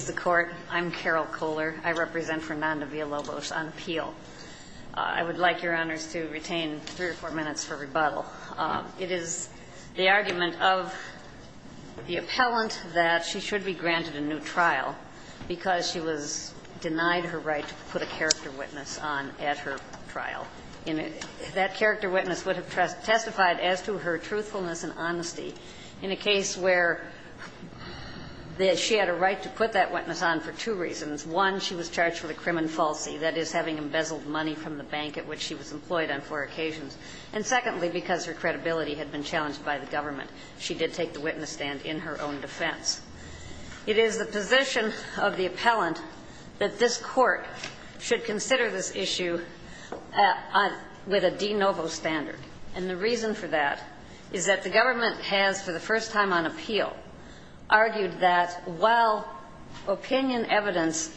on appeal. I would like, Your Honors, to retain three or four minutes for rebuttal. It is the argument of the appellant that she should be granted a new trial because she was denied her right to put a character witness on at her trial. And that character witness would have testified as to her truthfulness and honesty in a case where she had a right to put that witness on for two reasons. One, she was charged with a crimen falsi, that is, having embezzled money from the bank at which she was employed on four occasions. And secondly, because her credibility had been challenged by the government, she did take the witness stand in her own defense. It is the position of the appellant that this Court should consider this issue with a de novo standard. And the reason for that is that the government has, for the first time on appeal, argued that while opinion evidence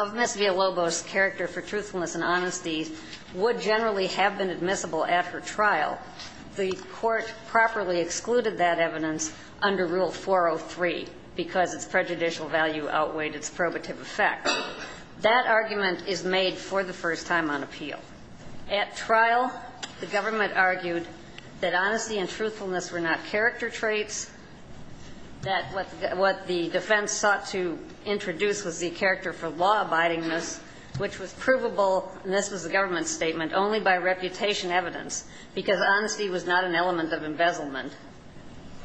of Ms. Villalobos' character for truthfulness and honesty would generally have been admissible at her trial, the Court properly excluded that evidence under Rule 403 because its prejudicial value outweighed its probative effect. That argument is made, for the first time on appeal. At trial, the government argued that honesty and truthfulness were not character traits, that what the defense sought to introduce was the character for law-abiding ness, which was provable, and this was the government's statement, only by reputation evidence, because honesty was not an element of embezzlement.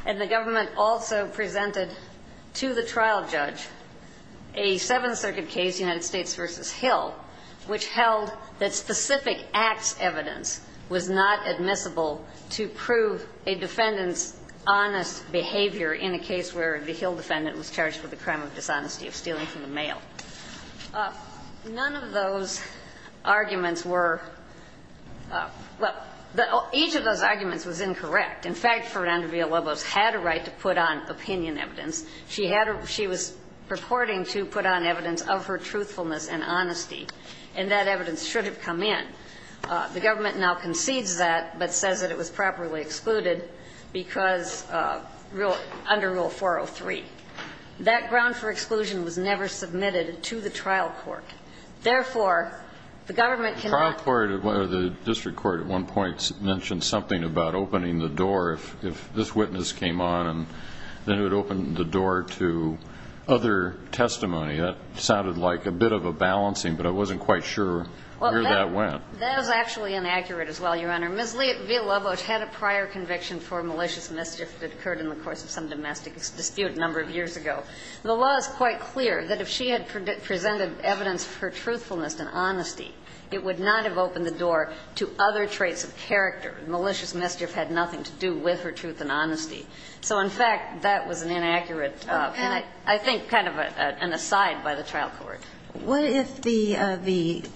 And the government also presented to the trial judge a Seventh Circuit case, United States v. Hill, which held that specific acts' evidence was not admissible to prove a defendant's honest behavior in a case where the Hill defendant was charged with the crime of dishonesty of stealing from the mail. None of those arguments were – well, each of those arguments was incorrect. In fact, Fernanda Villalobos had a right to put on opinion and that evidence should have come in. The government now concedes that, but says that it was properly excluded because – under Rule 403. That ground for exclusion was never submitted to the trial court. Therefore, the government cannot – The trial court or the district court at one point mentioned something about opening the door. If this witness came on and then it would open the door to other testimony, that sounded like a bit of a balancing, but I wasn't quite sure where that went. Well, that was actually inaccurate as well, Your Honor. Ms. Villalobos had a prior conviction for malicious mischief that occurred in the course of some domestic dispute a number of years ago. The law is quite clear that if she had presented evidence for truthfulness and honesty, it would not have opened the door to other traits of character. Malicious mischief had nothing to do with her truth and honesty. So, in fact, that was an inaccurate – I think kind of an aside by the trial court. What if the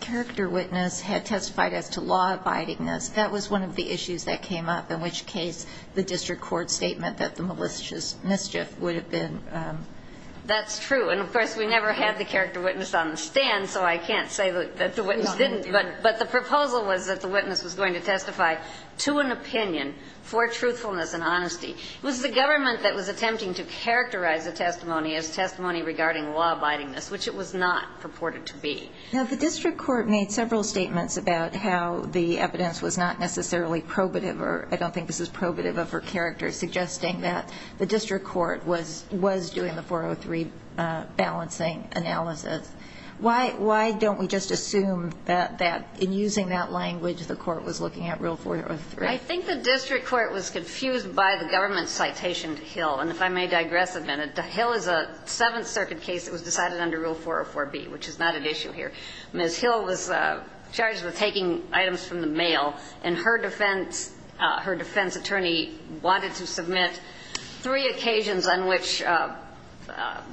character witness had testified as to law-abidingness? That was one of the issues that came up, in which case the district court statement that the malicious mischief would have been – That's true. And, of course, we never had the character witness on the stand, so I can't say that the witness didn't. But the proposal was that the witness was going to testify to an opinion for truthfulness and honesty. It was the government that was attempting to characterize the testimony as testimony regarding law-abidingness, which it was not purported to be. Now, the district court made several statements about how the evidence was not necessarily probative or – I don't think this is probative of her character – suggesting that the district court was doing the 403 balancing analysis. Why don't we just assume that, in using that language, the court was looking at Rule 403? I think the district court was confused by the government's citation to Hill. And if I may digress a minute, to Hill is a Seventh Circuit case that was decided under Rule 404B, which is not at issue here. Ms. Hill was charged with taking items from the mail, and her defense – her defense attorney wanted to submit three occasions on which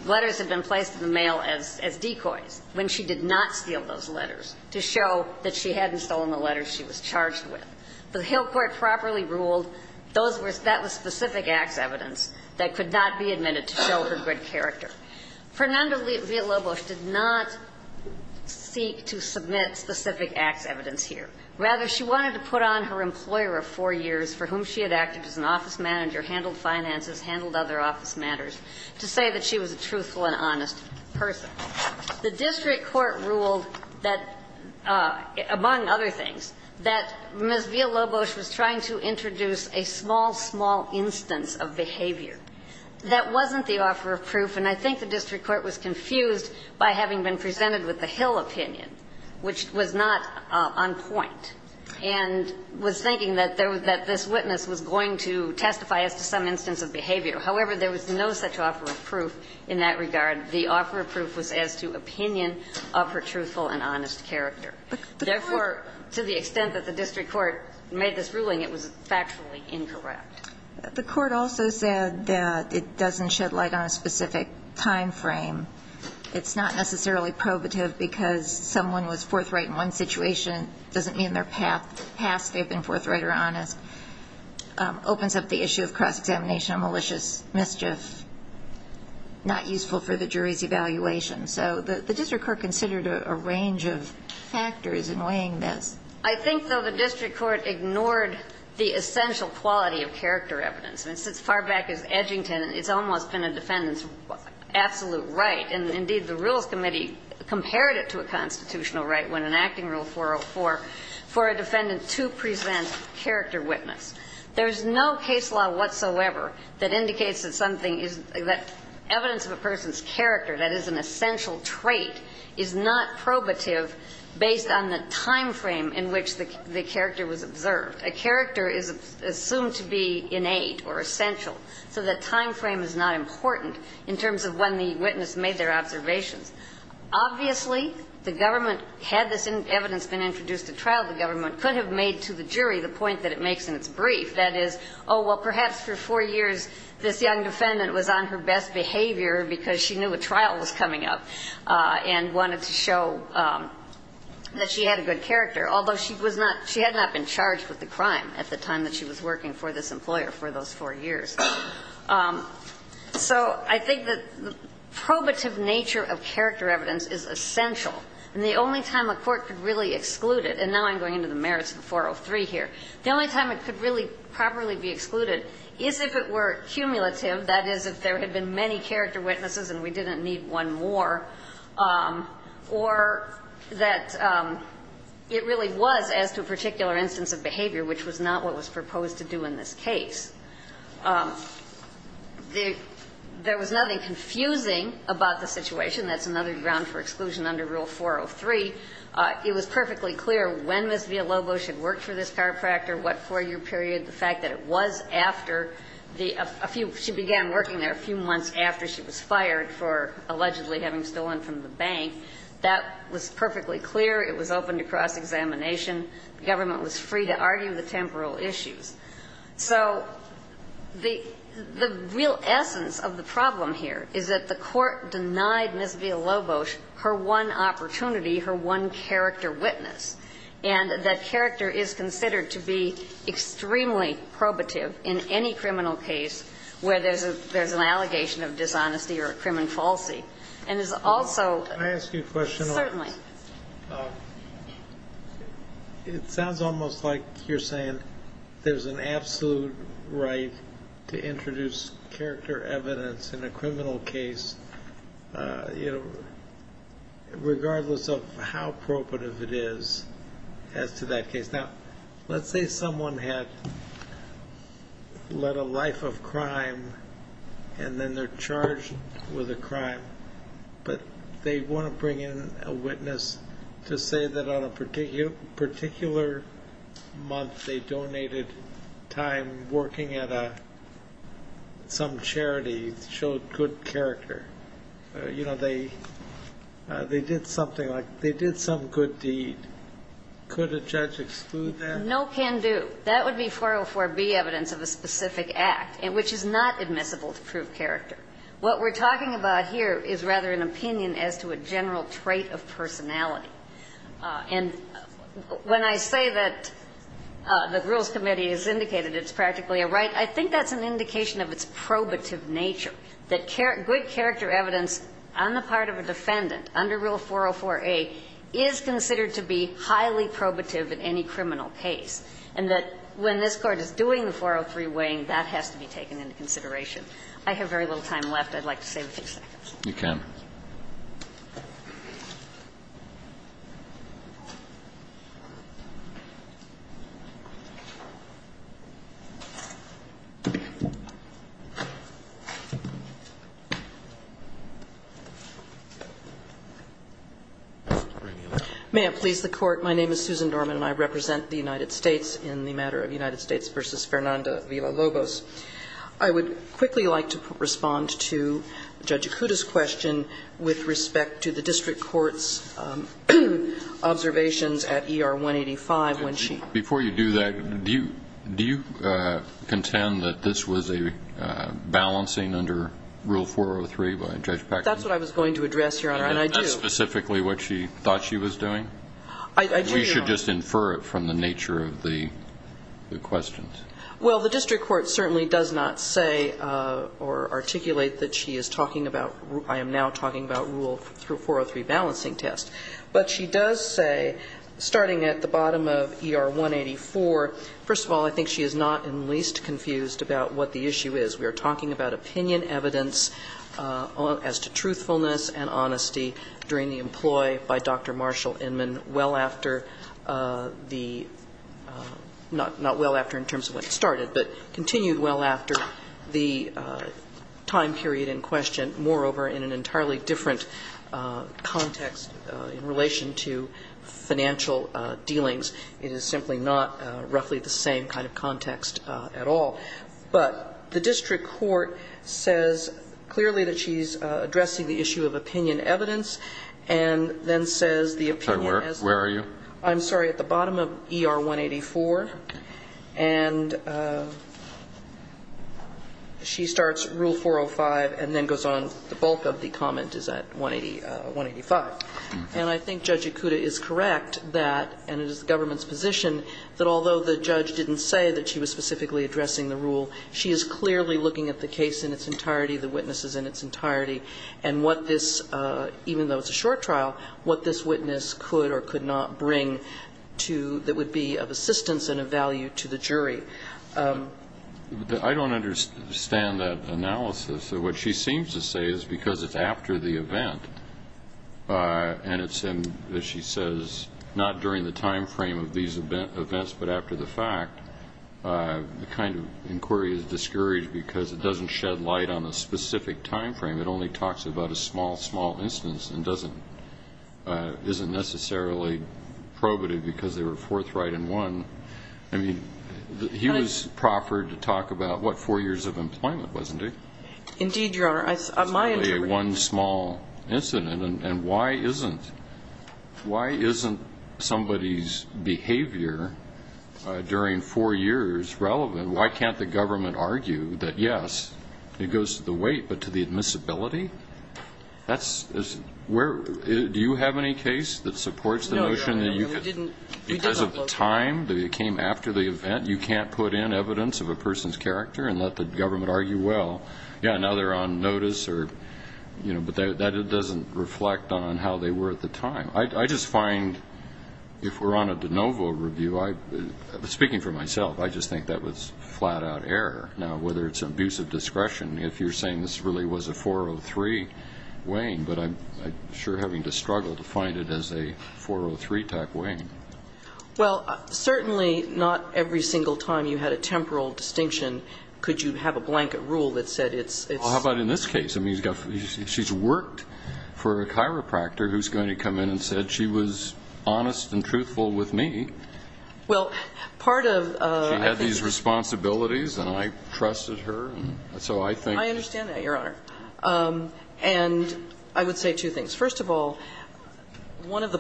letters had been placed in the mail as decoys when she did not steal those letters, to show that she hadn't stolen the letters she was charged with. The Hill court properly ruled those were – that was specific acts evidence that could not be admitted to show her good character. Fernanda Villalobos did not seek to submit specific acts evidence here. Rather, she wanted to put on her employer of four years, for whom she had acted as an office manager, handled finances, handled other office matters, to say that she was a truthful and honest person. The district court ruled that, among other things, that Ms. Villalobos was trying to introduce a small, small instance of behavior. That wasn't the offer of proof, and I think the district court was confused by having been presented with the Hill opinion, which was not on point, and was thinking that this witness was going to testify as to some instance of behavior. However, there was no such offer of proof in that regard. The offer of proof was as to opinion of her truthful and honest character. Therefore, to the extent that the district court made this ruling, it was factually incorrect. The court also said that it doesn't shed light on a specific time frame. It's not necessarily probative because someone was forthright in one situation doesn't mean in their past they've been forthright or honest. Opens up the issue of cross-examination of malicious mischief, not useful for the jury's evaluation. So the district court considered a range of factors in weighing this. I think, though, the district court ignored the essential quality of character evidence. I mean, since far back as Edgington, it's almost been a defendant's absolute right. And, indeed, the Rules Committee compared it to a constitutional right when enacting Rule 404 for a defendant to present character witness. There's no case law whatsoever that indicates that something is that evidence of a person's character, that is an essential trait, is not probative based on the time frame in which the character was observed. A character is assumed to be innate or essential. So that time frame is not important in terms of when the witness made their observations. Obviously, the government, had this evidence been introduced to trial, the government could have made to the jury the point that it makes in its brief. That is, oh, well, perhaps for four years this young defendant was on her best behavior because she knew a trial was coming up and wanted to show that she had a good character, although she was not, she had not been charged with the crime at the time that she was working for this employer for those four years. So I think that the probative nature of character evidence is essential. And the only time a court could really exclude it, and now I'm going into the merits of 403 here, the only time it could really properly be excluded is if it were cumulative, that is, if there had been many character witnesses and we didn't need one more, or that it really was as to a particular instance of behavior which was not what was proposed to do in this case. There was nothing confusing about the situation. That's another ground for exclusion under Rule 403. It was perfectly clear when Ms. Villalobos had worked for this chiropractor, what four-year period, the fact that it was after the, a few, she began working there a few months after she was fired for allegedly having stolen from the bank. That was perfectly clear. It was open to cross-examination. The government was free to argue the temporal issues. So the real essence of the case is that there is one opportunity for one character witness. And that character is considered to be extremely probative in any criminal case where there's an allegation of dishonesty or a crime and falsity. And it's also... Can I ask you a question? Certainly. It sounds almost like you're saying there's an absolute right to introduce character evidence in a criminal case, you know, regardless of how probative it is as to that case. Now, let's say someone had led a life of crime and then they're charged with a crime, but they want to bring in a witness to say that on a particular month they donated time working at some charity, showed good character. You know, they did something like, they did some good deed. Could a judge exclude that? No can do. That would be 404B evidence of a specific act, which is not admissible to prove character. What we're talking about here is rather an opinion as to a general trait of personality. And when I say that the Rules Committee has indicated it's practically a right, I think that's an indication of its probative nature, that good character evidence on the part of a defendant under Rule 404A is considered to be highly probative in any criminal case. And that when this Court is doing the 403 weighing, that has to be taken into consideration. I have very little time left. I'd like to save a few seconds. You can. Thank you. May it please the Court. My name is Susan Dorman, and I represent the United States in the matter of United States v. Fernanda Villa-Lobos. I would quickly like to respond to Judge Acuda's question with respect to the district court's observations at ER 185 when she Before you do that, do you contend that this was a balancing under Rule 403 by Judge Packard? That's what I was going to address, Your Honor. And I do Is that specifically what she thought she was doing? I do, Your Honor Or you should just infer it from the nature of the questions? Well, the district court certainly does not say or articulate that she is talking about I am now talking about Rule 403 balancing test. But she does say, starting at the bottom of ER 184, first of all, I think she is not in the least confused about what the issue is. We are talking about opinion evidence as to truthfulness and honesty during the employ by Dr. Marshall Inman well after the not well after in terms of when it started, but continued well after the time period in question. Moreover, in an entirely different context in relation to financial dealings. It is simply not roughly the same kind of context at all. But the district court says clearly that she is addressing the issue of opinion evidence and then says the opinion as Where are you? I'm sorry, at the bottom of ER 184. And she starts Rule 405 and then goes on. The bulk of the comment is at 185. And I think Judge Ikuda is correct that, and it is the government's position, that although the judge didn't say that she was specifically addressing the rule, she is clearly looking at the case in its entirety, the witnesses in its entirety, and what this, even though it's a short trial, what this witness could or could not bring that would be of assistance and of value to the jury. I don't understand that analysis. What she seems to say is because it's after the event and it's in, as she says, not during the time frame of these events, but after the fact, the kind of inquiry is discouraged because it doesn't shed light on a specific time frame. It only talks about a small, small instance and doesn't, isn't necessarily probative because they were forthright in one. I mean, he was proffered to talk about what, four years of employment, wasn't he? Indeed, Your Honor. It's only one small incident. And why isn't, why isn't somebody's behavior during four years relevant? Why can't the government argue that, yes, it goes to the weight, but to the admissibility? That's, where, do you have any case that supports the notion that you could, because of the time that it came after the event, you can't put in evidence of a person's character and let the government argue, well, yeah, now they're on notice or, you know, but that doesn't reflect on how they were at the time. I just find if we're on a de novo review, I, speaking for myself, I just think that was flat out error. Now, whether it's abusive discretion, if you're saying this really was a 403 weighing, but I'm sure having to struggle to find it as a 403 type weighing. Well, certainly not every single time you had a temporal distinction could you have a blanket rule that said it's, it's. Well, how about in this case? I mean, you've got, she's worked for a chiropractor who's going to come in and said she was honest and truthful with me. Well, part of. She had these responsibilities and I trusted her and so I think. I understand that, Your Honor. And I would say two things. First of all, one of the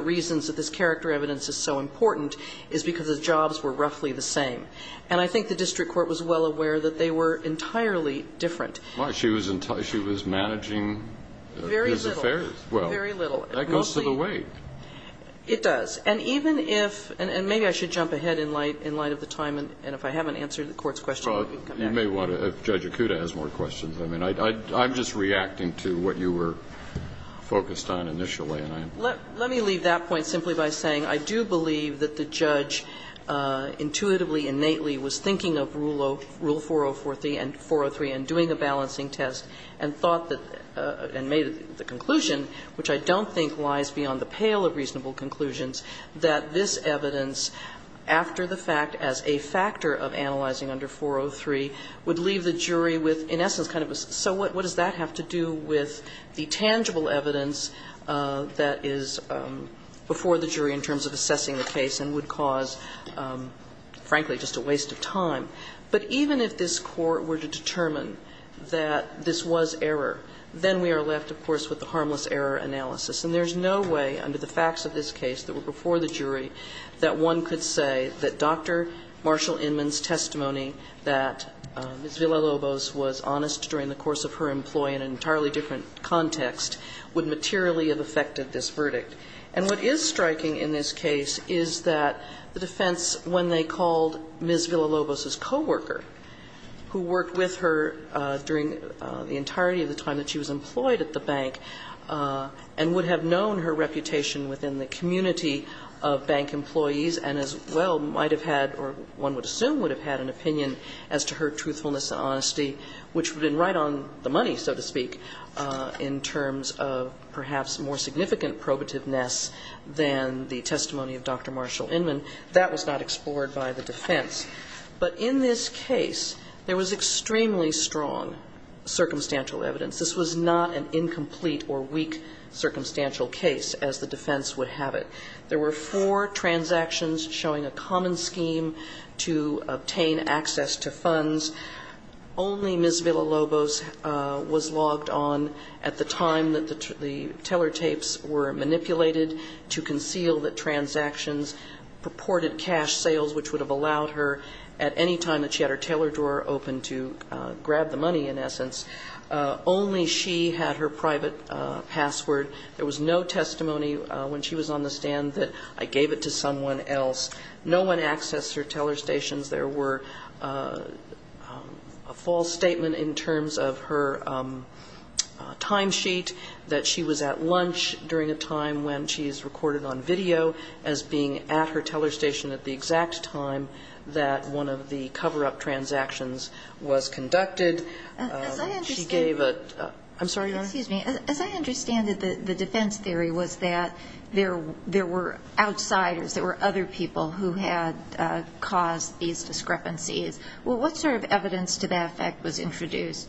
reasons that this character evidence is so important is because the jobs were roughly the same. And I think the district court was well aware that they were entirely different. Why? She was entirely, she was managing these affairs. Very little. Well. Very little. That goes to the weight. It does. And even if, and maybe I should jump ahead in light, in light of the time and if I haven't answered the court's question, you can come back. You may want to, if Judge Acuda has more questions. I mean, I, I'm just reacting to what you were focused on initially. Let me leave that point simply by saying I do believe that the judge intuitively, innately was thinking of Rule 403 and doing a balancing test and thought that, and made the conclusion, which I don't think lies beyond the pale of reasonable conclusions, that this evidence after the fact as a factor of analyzing under 403 would leave the jury with, in essence, kind of a, so what does that have to do with the tangible evidence that is before the jury in terms of assessing the case and would cause, frankly, just a waste of time? But even if this Court were to determine that this was error, then we are left, of course, with the harmless error analysis. And there's no way under the facts of this case that were before the jury that one could say that Dr. Marshall Inman's testimony that Ms. Villalobos was honest during the course of her employee in an entirely different context would materially have affected this verdict. And what is striking in this case is that the defense, when they called Ms. Villalobos's coworker, who worked with her during the entirety of the time that she was employed at the bank, and would have known her reputation within the community of bank employees, and as well might have had, or one would have known the money, so to speak, in terms of perhaps more significant probativeness than the testimony of Dr. Marshall Inman, that was not explored by the defense. But in this case, there was extremely strong circumstantial evidence. This was not an incomplete or weak circumstantial case, as the defense would have it. There were four transactions showing a common scheme to obtain access to funds. Only Ms. Villalobos was logged on at the time that the teller tapes were manipulated to conceal the transactions, purported cash sales, which would have allowed her at any time that she had her teller drawer open to grab the money, in essence. Only she had her private password. There was no testimony when she was on the stand that I gave it to someone else. No one accessed her teller stations. There were a false statement in terms of her time sheet, that she was at lunch during a time when she is recorded on video, as being at her teller station at the exact time that one of the cover-up transactions was conducted. She gave a... I'm sorry, Your Honor? As I understand it, the defense theory was that there were outsiders, there were other people who had caused these discrepancies. Well, what sort of evidence to that effect was introduced?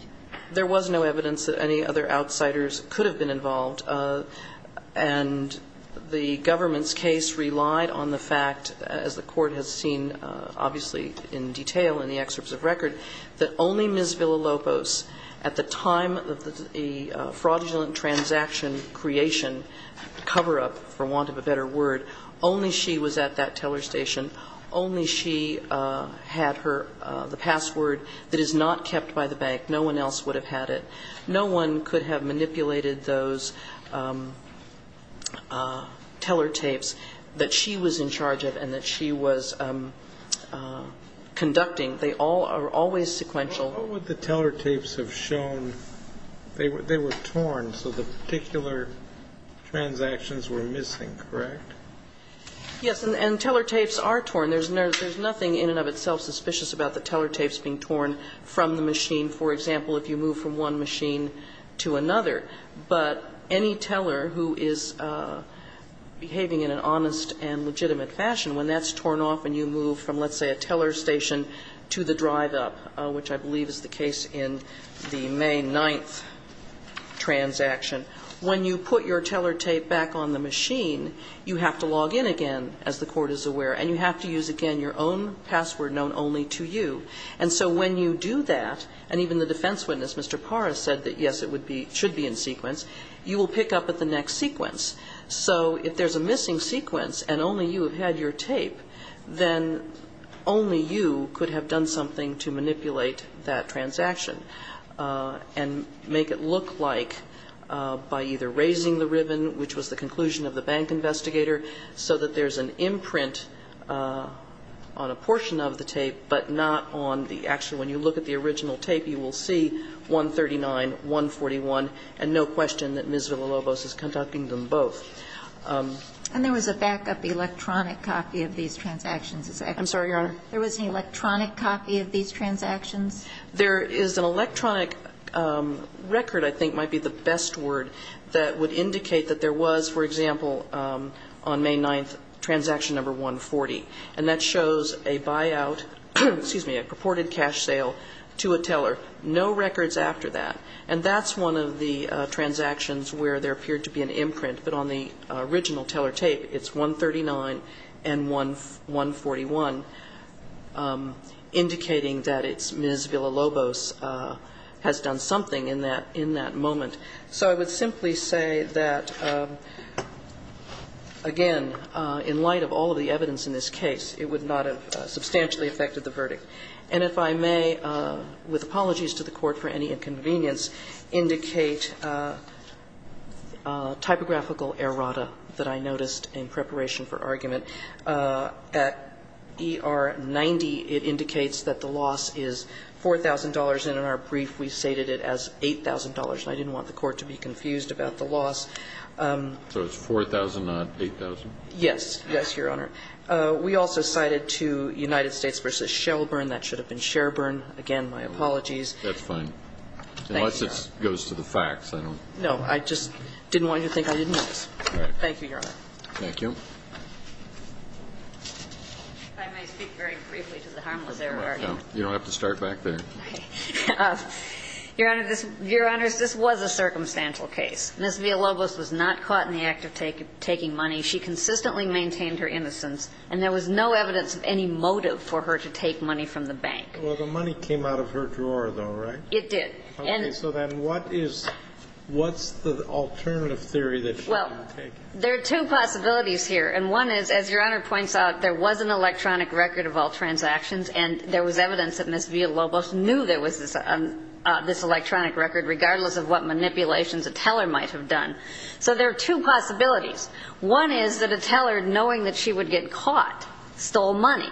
There was no evidence that any other outsiders could have been involved. And the government's case relied on the fact, as the Court has seen, obviously, in detail in the excerpts of record, that only Ms. Villalobos, at the time of the fraudulent transaction creation, cover-up, for want of a better word, only she was at that teller station. Only she had the password that is not kept by the bank. No one else would have had it. No one could have manipulated those teller tapes that she was in charge of and that she was conducting. They all are always sequential. What would the teller tapes have shown? They were torn, so the particular transactions were missing, correct? Yes. And teller tapes are torn. There's nothing in and of itself suspicious about the teller tapes being torn from the machine, for example, if you move from one machine to another. But any teller who is behaving in an honest and legitimate fashion, when that's torn off and you move from, let's say, a teller station to the drive-up, which I believe is the case in the May 9th transaction, when you put your teller tape back on the machine, you have to log in again, as the Court is aware, and you have to use again your own password known only to you. And so when you do that, and even the defense witness, Mr. Paras, said that, yes, it would be, should be in sequence, you will pick up at the next sequence. So if there's a missing sequence and only you have had your tape, then only you could have done something to manipulate that transaction and make it look like by either raising the ribbon, which was the conclusion of the bank investigator, so that there's an imprint on a portion of the tape, but not on the actual, when you look at the original tape, you will see 139, 141, and no question that Ms. Villalobos is conducting them both. And there was a backup electronic copy of these transactions. I'm sorry, Your Honor. There was an electronic copy of these transactions? There is an electronic record, I think might be the best word, that would indicate that there was, for example, on May 9th, transaction number 140. And that shows a buyout, excuse me, a purported cash sale to a teller. No records after that. And that's one of the transactions where there appeared to be an imprint. But on the original teller tape, it's 139 and 141, indicating that it's Ms. Villalobos has done something in that moment. So I would simply say that, again, in light of all of the evidence in this case, it would not have substantially affected the verdict. And if I may, with apologies to the Court for any inconvenience, indicate typographical errata that I noticed in preparation for argument. At ER 90, it indicates that the loss is $4,000, and in our brief, we stated it as $8,000. And I didn't want the Court to be confused about the loss. So it's 4,000, not 8,000? Yes. Yes, Your Honor. We also cited to United States v. Shelburne. That should have been Sherburne. Again, my apologies. That's fine. Thank you, Your Honor. Unless it goes to the facts. No. I just didn't want you to think I didn't notice. Thank you, Your Honor. Thank you. If I may speak very briefly to the harmless error argument. You don't have to start back there. Your Honor, this was a circumstantial case. Ms. Villalobos was not caught in the act of taking money. She consistently maintained her innocence, and there was no evidence of any motive for her to take money from the bank. Well, the money came out of her drawer, though, right? It did. Okay, so then what is the alternative theory that she might have taken? Well, there are two possibilities here. And one is, as Your Honor points out, there was an electronic record of all transactions, and there was evidence that Ms. Villalobos knew there was this electronic record, regardless of what manipulations a teller might have done. So there are two possibilities. One is that a teller, knowing that she would get caught, stole money.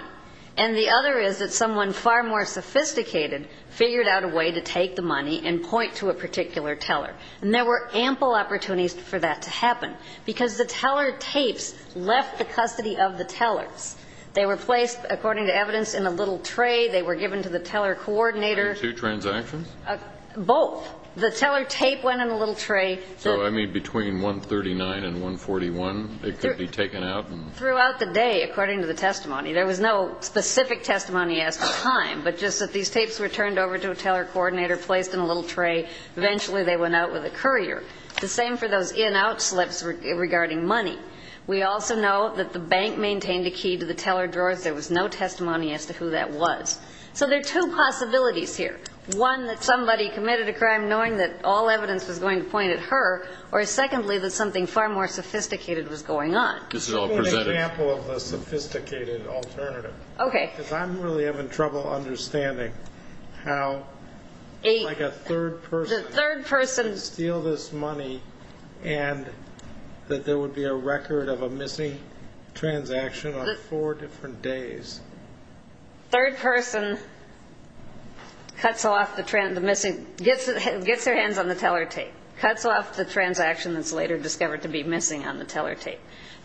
And the other is that someone far more sophisticated figured out a way to take the money and point to a particular teller. And there were ample opportunities for that to happen, because the teller tapes left the custody of the tellers. They were placed, according to evidence, in a little tray. They were given to the teller coordinator. Two transactions? Both. The teller tape went in a little tray. So, I mean, between 139 and 141, it could be taken out? Throughout the day, according to the testimony. There was no specific testimony as to time, but just that these tapes were turned over to a teller coordinator, placed in a little tray. Eventually, they went out with a courier. The same for those in-out slips regarding money. We also know that the bank maintained a key to the teller drawers. There was no testimony as to who that was. So there are two possibilities here. One, that somebody committed a crime, knowing that all evidence was going to point at her. Or, secondly, that something far more sophisticated was going on. This is all presented. Give me an example of the sophisticated alternative. Okay. Because I'm really having trouble understanding how a third person could steal this money, and that there would be a record of a missing transaction on four different days. Third person gets their hands on the teller tape. Cuts off the transaction that's later discovered to be missing on the teller tape.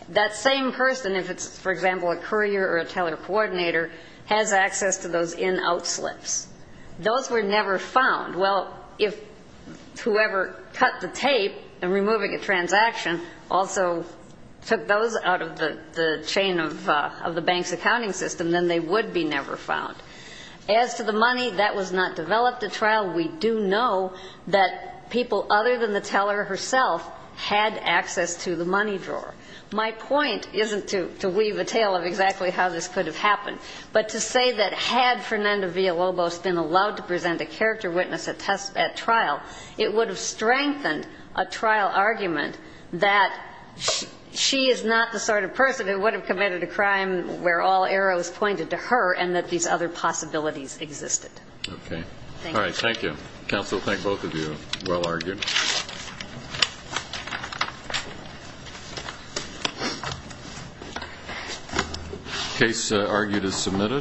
That same person, if it's, for example, a courier or a teller coordinator, has access to those in-out slips. Those were never found. Well, whoever cut the tape and removing a transaction also took those out of the chain of the bank's accounting system, then they would be never found. As to the money that was not developed at trial, we do know that people other than the teller herself had access to the money drawer. My point isn't to weave a tale of exactly how this could have happened, but to say that had we strengthened a trial argument, that she is not the sort of person who would have committed a crime where all arrows pointed to her and that these other possibilities existed. Okay. All right. Thank you. Counsel, thank both of you. Well argued. Case argued as submitted.